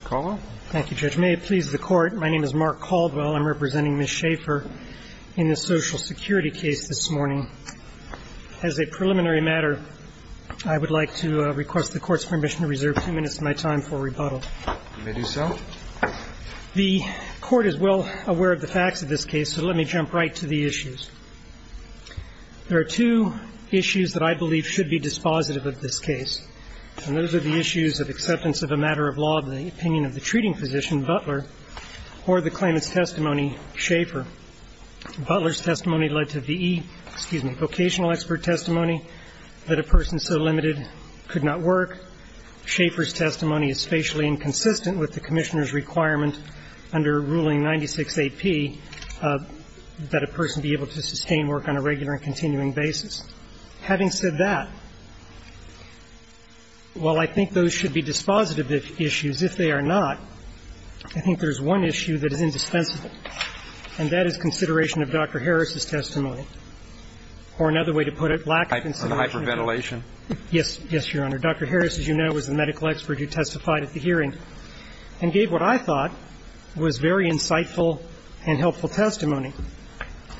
Thank you, Judge. May it please the Court, my name is Mark Caldwell. I'm representing Ms. Shafer in this Social Security case this morning. As a preliminary matter, I would like to request the Court's permission to reserve two minutes of my time for rebuttal. You may do so. The Court is well aware of the facts of this case, so let me jump right to the issues. There are two issues that I believe should be dispositive of this case, and those are the issues of acceptance of a matter of law of the opinion of the treating physician, Butler, or the claimant's testimony, Shafer. Butler's testimony led to V.E., excuse me, vocational expert testimony that a person so limited could not work. Shafer's testimony is facially inconsistent with the Commissioner's requirement under Ruling 96A.P. that a person be able to sustain work on a regular and continuing basis. Having said that, while I think those should be dispositive issues, if they are not, I think there's one issue that is indispensable, and that is consideration of Dr. Harris's testimony, or another way to put it, lack of consideration. Roberts, on hyperventilation. Yes. Yes, Your Honor. Dr. Harris, as you know, was the medical expert who testified at the hearing and gave what I thought was very insightful and helpful testimony.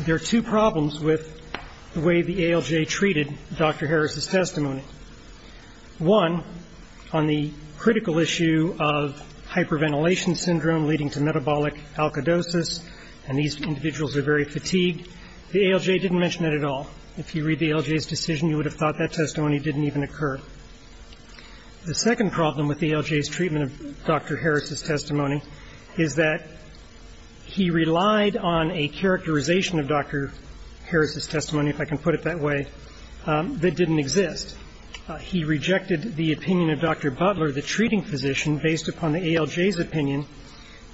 There are two problems with the way the ALJ treated Dr. Harris's testimony. One, on the critical issue of hyperventilation syndrome leading to metabolic alkalidosis, and these individuals are very fatigued, the ALJ didn't mention that at all. If you read the ALJ's decision, you would have thought that testimony didn't even occur. The second problem with the ALJ's treatment of Dr. Harris's testimony is that he relied on a characterization of Dr. Harris's testimony, if I can put it that way, that didn't exist. He rejected the opinion of Dr. Butler, the treating physician, based upon the ALJ's opinion,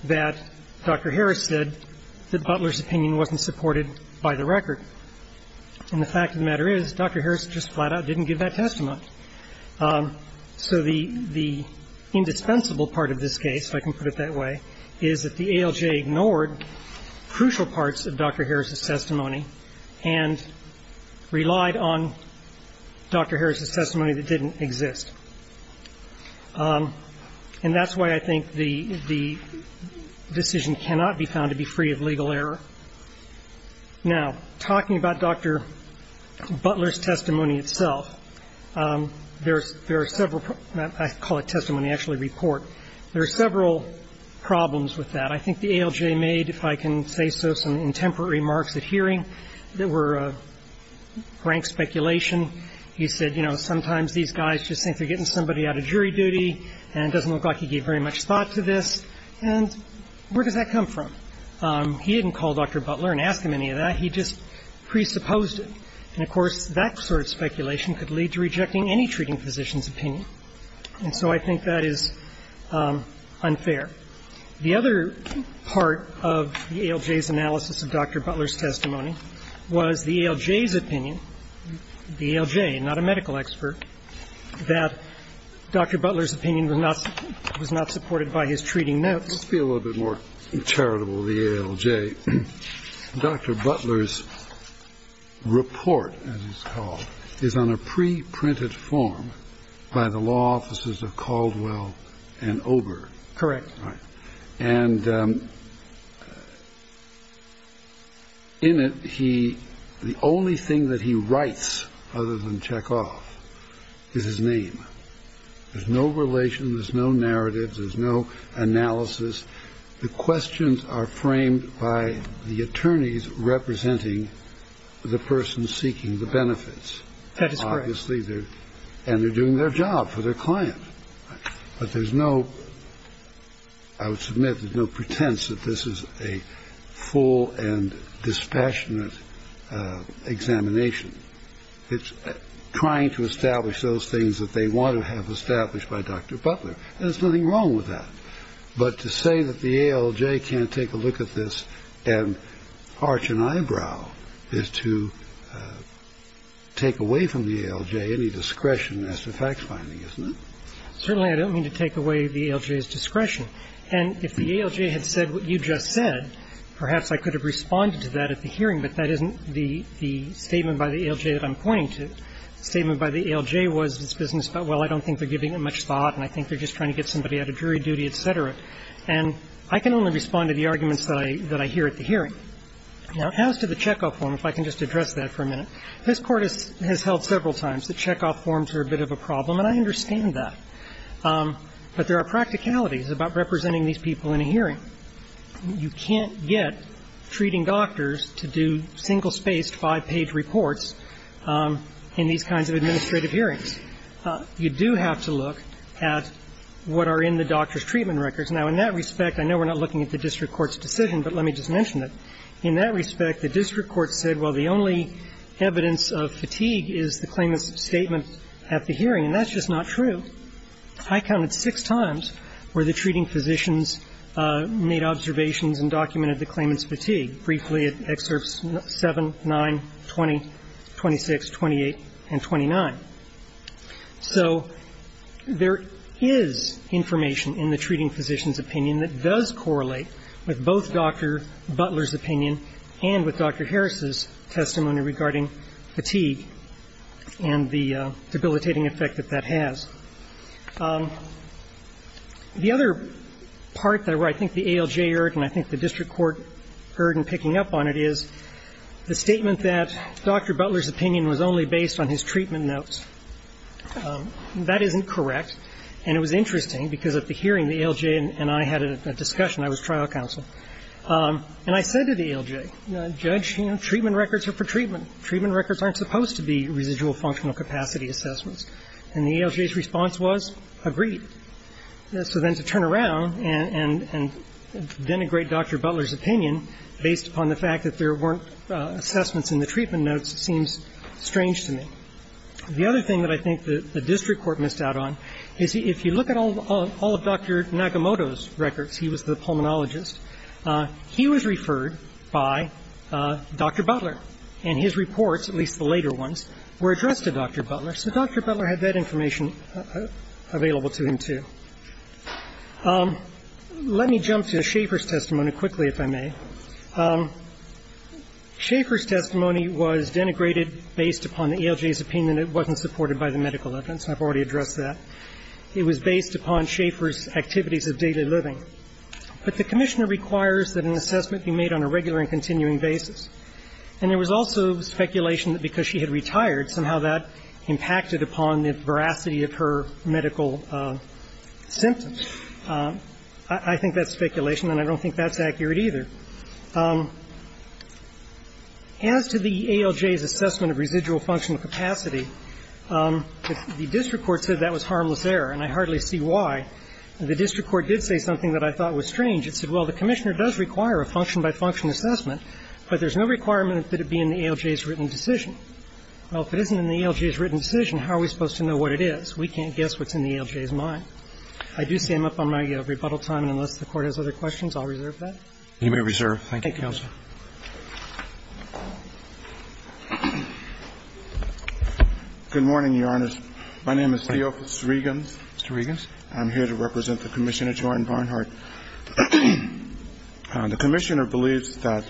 that Dr. Harris said that Butler's opinion wasn't supported by the record. And the fact of the matter is Dr. Harris just flat out didn't give that testimony. So the indispensable part of this case, if I can put it that way, is that the ALJ ignored crucial parts of Dr. Harris's testimony and relied on Dr. Harris's testimony that didn't exist. And that's why I think the decision cannot be found to be free of legal error. Now, talking about Dr. Butler's testimony itself, there are several, I call it testimony, actually report, there are several problems with that. I think the ALJ made, if I can say so, some intemperate remarks at hearing that were frank speculation. He said, you know, sometimes these guys just think they're getting somebody out of jury duty and it doesn't look like he gave very much thought to this, and where does that come from? He didn't call Dr. Butler and ask him any of that. He just presupposed it. And, of course, that sort of speculation could lead to rejecting any treating physician's opinion. And so I think that is unfair. The other part of the ALJ's analysis of Dr. Butler's testimony was the ALJ's opinion, the ALJ, not a medical expert, that Dr. Butler's opinion was not supported by his treating notes. Let's be a little bit more charitable of the ALJ. Dr. Butler's report, as he's called, is on a preprinted form by the law offices of Caldwell and Oberg. Correct. And in it, the only thing that he writes other than check off is his name. There's no relation. There's no narrative. There's no analysis. The questions are framed by the attorneys representing the person seeking the benefits. That is correct. And they're doing their job for their client. But there's no ‑‑ I would submit there's no pretense that this is a full and dispassionate examination. It's trying to establish those things that they want to have established by Dr. Butler. There's nothing wrong with that. But to say that the ALJ can't take a look at this and arch an eyebrow is to take away from the ALJ any discretion as to fact finding, isn't it? Certainly I don't mean to take away the ALJ's discretion. And if the ALJ had said what you just said, perhaps I could have responded to that at the hearing, but that isn't the statement by the ALJ that I'm pointing to. The statement by the ALJ was this business about, well, I don't think they're giving it much thought and I think they're just trying to get somebody out of jury duty, et cetera. And I can only respond to the arguments that I hear at the hearing. Now, as to the check off form, if I can just address that for a minute, this Court has held several times that check off forms are a bit of a problem, and I understand that. But there are practicalities about representing these people in a hearing. You can't get treating doctors to do single-spaced, five-page reports in these kinds of administrative hearings. You do have to look at what are in the doctor's treatment records. Now, in that respect, I know we're not looking at the district court's decision, but let me just mention it. In that respect, the district court said, well, the only evidence of fatigue is the claimant's statement at the hearing. And that's just not true. I counted six times where the treating physicians made observations and documented the claimant's fatigue. Briefly, at Excerpts 7, 9, 20, 26, 28, and 29. So there is information in the treating physician's opinion that does correlate with both Dr. Butler's opinion and with Dr. Harris's testimony regarding fatigue and the debilitating effect that that has. The other part that I think the ALJ heard and I think the district court heard in picking up on it is the statement that Dr. Butler's opinion was only based on his treatment notes. That isn't correct. And it was interesting, because at the hearing, the ALJ and I had a discussion. I was trial counsel. And I said to the ALJ, Judge, you know, treatment records are for treatment. Treatment records aren't supposed to be residual functional capacity assessments. And the ALJ's response was, agreed. So then to turn around and denigrate Dr. Butler's opinion based upon the fact that there weren't assessments in the treatment notes seems strange to me. The other thing that I think the district court missed out on is if you look at all of Dr. Nagamoto's records, he was the pulmonologist, he was referred by Dr. Butler. And his reports, at least the later ones, were addressed to Dr. Butler. So Dr. Butler had that information available to him, too. Let me jump to Schaefer's testimony quickly, if I may. Schaefer's testimony was denigrated based upon the ALJ's opinion. It wasn't supported by the medical evidence. I've already addressed that. It was based upon Schaefer's activities of daily living. But the Commissioner requires that an assessment be made on a regular and continuing basis. And there was also speculation that because she had retired, somehow that impacted upon the veracity of her medical symptoms. I think that's speculation, and I don't think that's accurate either. As to the ALJ's assessment of residual functional capacity, the district court said that was harmless error. And I hardly see why. The district court did say something that I thought was strange. It said, well, the Commissioner does require a function-by-function assessment, but there's no requirement that it be in the ALJ's written decision. Well, if it isn't in the ALJ's written decision, how are we supposed to know what it is? We can't guess what's in the ALJ's mind. I do say I'm up on my rebuttal time, and unless the Court has other questions, I'll reserve that. You may reserve. Thank you, counsel. Good morning, Your Honors. My name is Theophilus Regans. Mr. Regans. I'm here to represent the Commissioner, Jordan Barnhart. The Commissioner believes that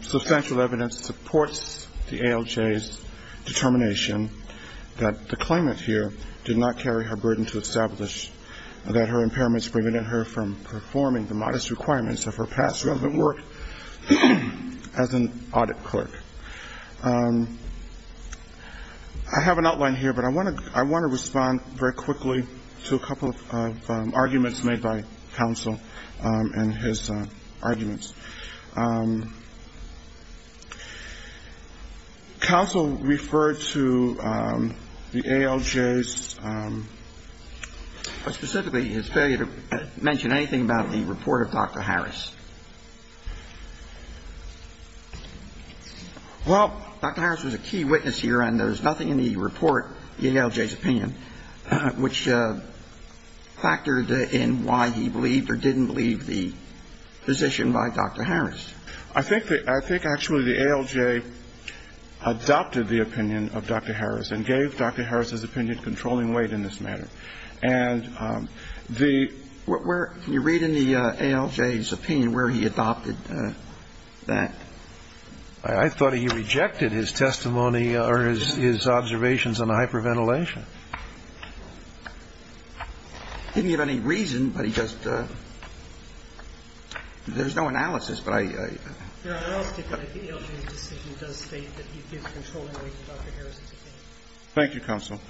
substantial evidence supports the ALJ's determination that the claimant here did not carry her burden to establish that her impairments prevented her from performing the modest requirements of her past relevant work, as an audit clerk. I have an outline here, but I want to respond very quickly to a couple of arguments made by counsel and his arguments. Counsel referred to the ALJ's – Well, Dr. Harris was a key witness here, and there's nothing in the report, the ALJ's opinion, which factored in why he believed or didn't believe the position by Dr. Harris. I think actually the ALJ adopted the opinion of Dr. Harris and gave Dr. Harris's opinion controlling weight in this matter. And the – Can you read in the ALJ's opinion where he adopted that? I thought he rejected his testimony or his observations on hyperventilation. He didn't give any reason, but he just – there's no analysis, but I – The ALJ's decision does state that he gives controlling weight to Dr. Harris's opinion. Thank you, counsel.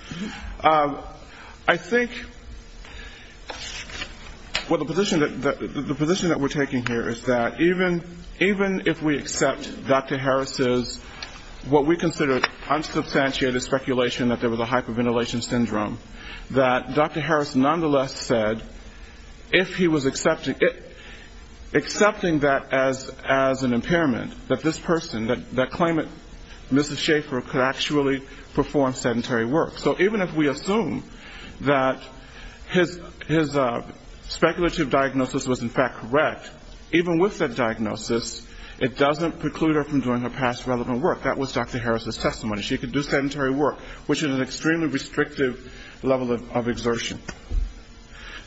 I think – well, the position that we're taking here is that even if we accept Dr. Harris's – what we consider unsubstantiated speculation that there was a hyperventilation syndrome, that Dr. Harris nonetheless said if he was accepting that as an impairment, that this person, that claimant, Mrs. Schaefer, could actually perform sedentary work. So even if we assume that his speculative diagnosis was in fact correct, even with that diagnosis, it doesn't preclude her from doing her past relevant work. That was Dr. Harris's testimony. She could do sedentary work, which is an extremely restrictive level of exertion.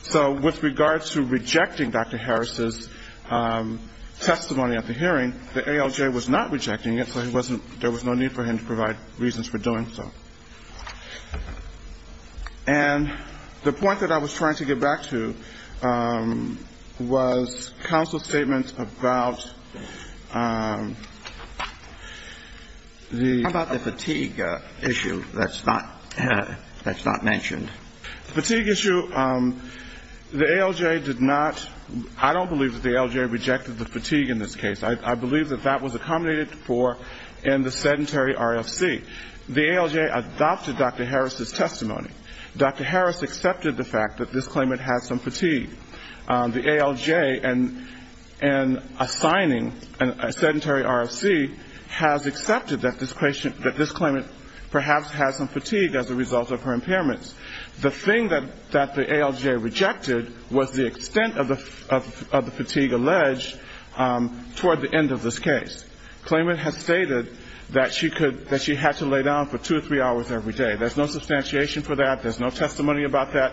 So with regards to rejecting Dr. Harris's testimony at the hearing, the ALJ was not rejecting it, so he wasn't – there was no need for him to provide reasons for doing so. And the point that I was trying to get back to was counsel's statement about the – How about the fatigue issue that's not – that's not mentioned? The fatigue issue, the ALJ did not – I don't believe that the ALJ rejected the fatigue in this case. I believe that that was accommodated for in the sedentary RFC. The ALJ adopted Dr. Harris's testimony. Dr. Harris accepted the fact that this claimant had some fatigue. The ALJ, in assigning a sedentary RFC, has accepted that this claimant perhaps has some fatigue as a result of her impairments. The thing that the ALJ rejected was the extent of the fatigue alleged toward the end of this case. Claimant has stated that she could – that she had to lay down for two or three hours every day. There's no substantiation for that. There's no testimony about that.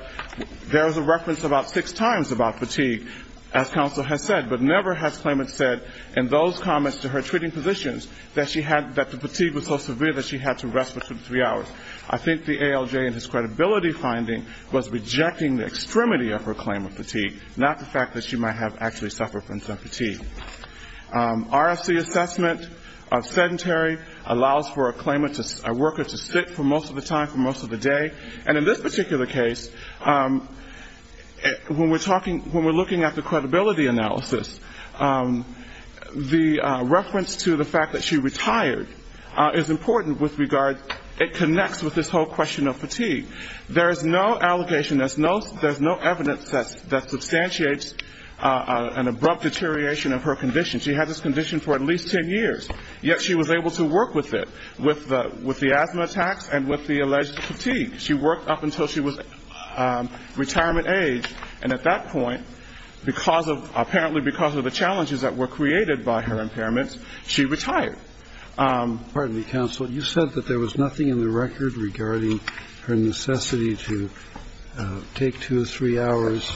There is a reference about six times about fatigue, as counsel has said, but never has claimant said in those comments to her treating physicians that she had – that the fatigue was so severe that she had to rest for two to three hours. I think the ALJ in his credibility finding was rejecting the extremity of her claim of fatigue, not the fact that she might have actually suffered from some fatigue. RFC assessment of sedentary allows for a claimant to – a worker to sit for most of the time for most of the day. And in this particular case, when we're talking – when we're looking at the credibility analysis, the reference to the fact that she retired is important with regard – it connects with this whole question of fatigue. There is no allegation. There's no evidence that substantiates an abrupt deterioration of her condition. She had this condition for at least ten years, yet she was able to work with it, with the asthma attacks and with the alleged fatigue. She worked up until she was retirement age. And at that point, because of – apparently because of the challenges that were created by her impairments, she retired. Pardon me, counsel. You said that there was nothing in the record regarding her necessity to take two or three hours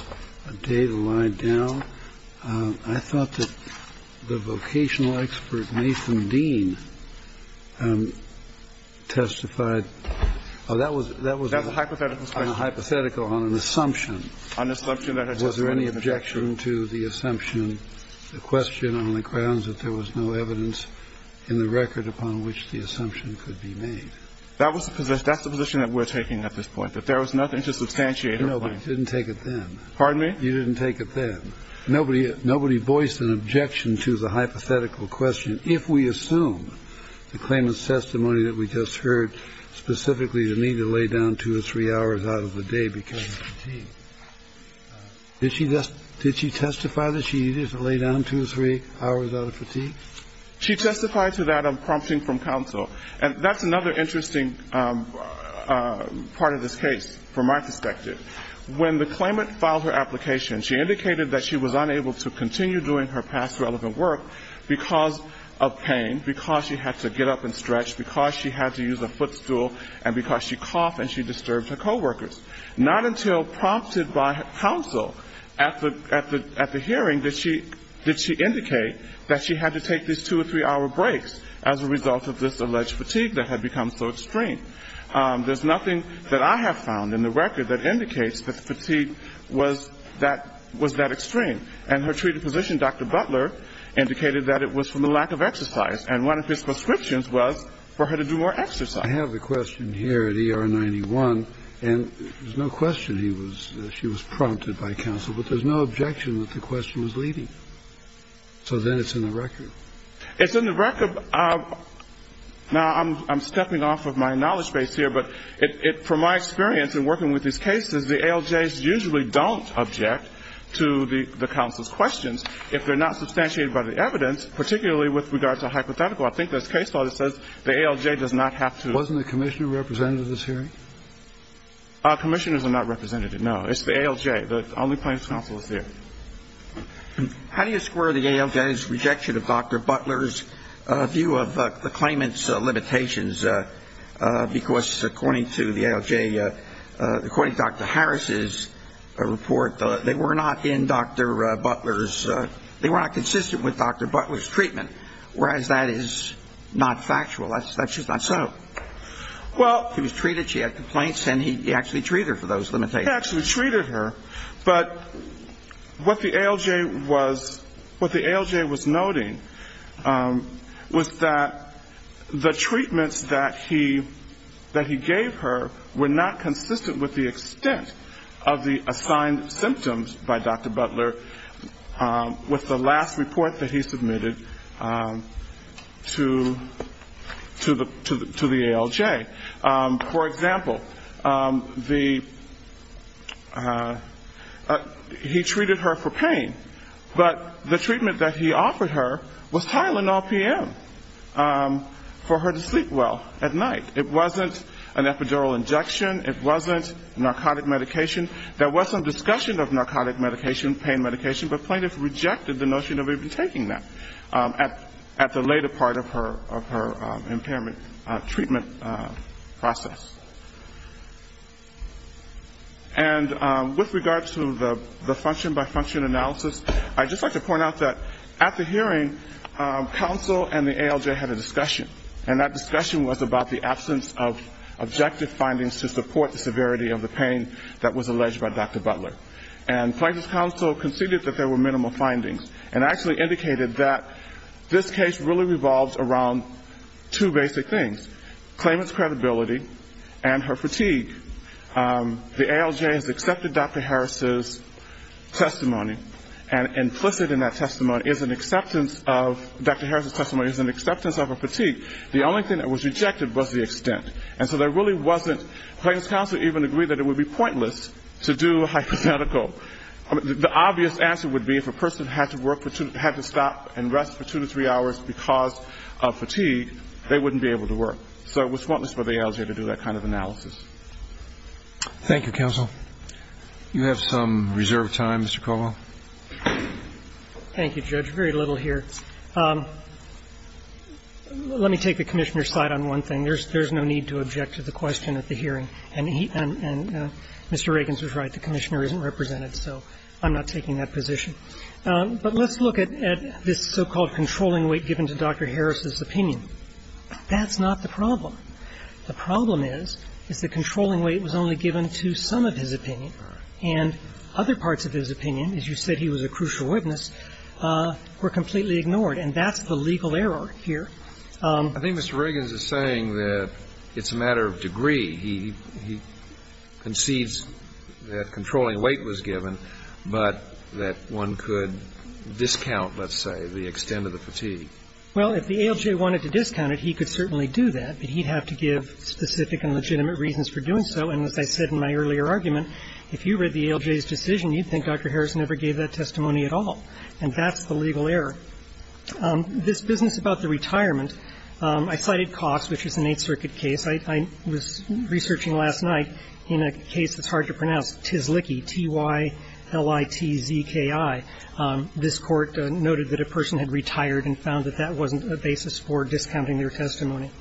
a day to lie down. I thought that the vocational expert, Nathan Dean, testified – oh, that was a hypothetical. That's a hypothetical question. A hypothetical on an assumption. Was there any objection to the assumption, the question on the grounds that there was no evidence in the record upon which the assumption could be made? That's the position that we're taking at this point, that there was nothing to substantiate her claim. No, but you didn't take it then. Pardon me? You didn't take it then. Nobody voiced an objection to the hypothetical question if we assume the claimant's testimony that we just heard specifically the need to lay down two or three hours out of the day because of fatigue. Did she testify that she needed to lay down two or three hours out of fatigue? She testified to that, prompting from counsel. And that's another interesting part of this case from my perspective. When the claimant filed her application, she indicated that she was unable to continue doing her past relevant work because of pain, because she had to get up and stretch, because she had to use a footstool, and because she coughed and she disturbed her coworkers. Not until prompted by counsel at the hearing did she indicate that she had to take these two or three-hour breaks as a result of this alleged fatigue that had become so extreme. There's nothing that I have found in the record that indicates that the fatigue was that extreme. And her treated physician, Dr. Butler, indicated that it was from the lack of exercise. And one of his prescriptions was for her to do more exercise. I have a question here at ER 91, and there's no question she was prompted by counsel, but there's no objection that the question was leading. So then it's in the record. It's in the record. Now, I'm stepping off of my knowledge base here, but from my experience in working with these cases, the ALJs usually don't object to the counsel's questions if they're not substantiated by the evidence, particularly with regard to hypothetical. I think this case law that says the ALJ does not have to. Wasn't the commissioner representative at this hearing? Commissioners are not representative, no. It's the ALJ. The only plaintiff's counsel is there. How do you square the ALJ's rejection of Dr. Butler's view of the claimant's limitations? Because according to the ALJ, according to Dr. Harris's report, they were not in Dr. Butler's ‑‑ they were not consistent with Dr. Butler's treatment, whereas that is not factual. That's just not so. She was treated, she had complaints, and he actually treated her for those limitations. He actually treated her, but what the ALJ was noting was that the treatments that he gave her were not consistent with the extent of the assigned symptoms by Dr. Butler with the last report that he submitted to the ALJ. For example, he treated her for pain, but the treatment that he offered her was Tylenol PM for her to sleep well at night. It wasn't an epidural injection. It wasn't narcotic medication. There was some discussion of narcotic medication, pain medication, but plaintiff rejected the notion of even taking that at the later part of her impairment treatment process. And with regards to the function by function analysis, I'd just like to point out that at the hearing, counsel and the ALJ had a discussion, and that discussion was about the absence of objective findings to support the severity of the pain that was alleged by Dr. Butler. And plaintiff's counsel conceded that there were minimal findings, and actually indicated that this case really revolves around two basic things, claimant's credibility and her fatigue. The ALJ has accepted Dr. Harris' testimony, and implicit in that testimony is an acceptance of Dr. Harris' testimony is an acceptance of her fatigue. The only thing that was rejected was the extent. And so there really wasn't, plaintiff's counsel even agreed that it would be pointless to do a hypothetical. The obvious answer would be if a person had to stop and rest for two to three hours because of fatigue, they wouldn't be able to work. So it was pointless for the ALJ to do that kind of analysis. Roberts. Thank you, counsel. You have some reserved time, Mr. Colwell. Thank you, Judge. Very little here. Let me take the Commissioner's side on one thing. There's no need to object to the question at the hearing. And Mr. Riggins was right. The Commissioner isn't represented, so I'm not taking that position. But let's look at this so-called controlling weight given to Dr. Harris' opinion. That's not the problem. The problem is, is that controlling weight was only given to some of his opinion, and other parts of his opinion, as you said he was a crucial witness, were completely ignored. And that's the legal error here. I think Mr. Riggins is saying that it's a matter of degree. He concedes that controlling weight was given, but that one could discount, let's say, the extent of the fatigue. Well, if the ALJ wanted to discount it, he could certainly do that. But he'd have to give specific and legitimate reasons for doing so. And as I said in my earlier argument, if you read the ALJ's decision, you'd think Dr. Harris never gave that testimony at all. And that's the legal error. This business about the retirement, I cited Cox, which is an Eighth Circuit case. I was researching last night in a case that's hard to pronounce, Tysliki, T-Y-L-I-T-Z-K-I. This Court noted that a person had retired and found that that wasn't a basis for discounting their testimony.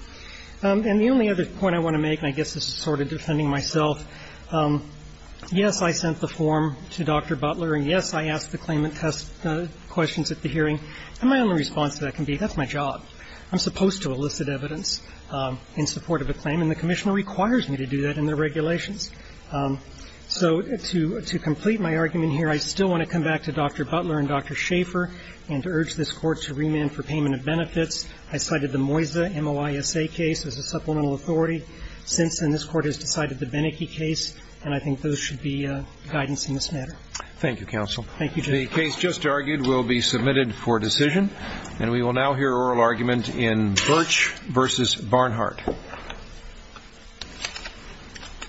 And the only other point I want to make, and I guess this is sort of defending myself, yes, I sent the form to Dr. Butler, and yes, I asked the claimant questions at the hearing. And my only response to that can be, that's my job. I'm supposed to elicit evidence in support of a claim, and the Commissioner requires me to do that in the regulations. So to complete my argument here, I still want to come back to Dr. Butler and Dr. Schaefer and urge this Court to remand for payment of benefits. I cited the Moisa, M-O-I-S-A, case as a supplemental authority. Since then, this Court has decided the Beneke case, and I think those should be guidance in this matter. Thank you, counsel. Thank you, Judge. The case just argued will be submitted for decision. And we will now hear oral argument in Birch v. Barnhart. Thank you.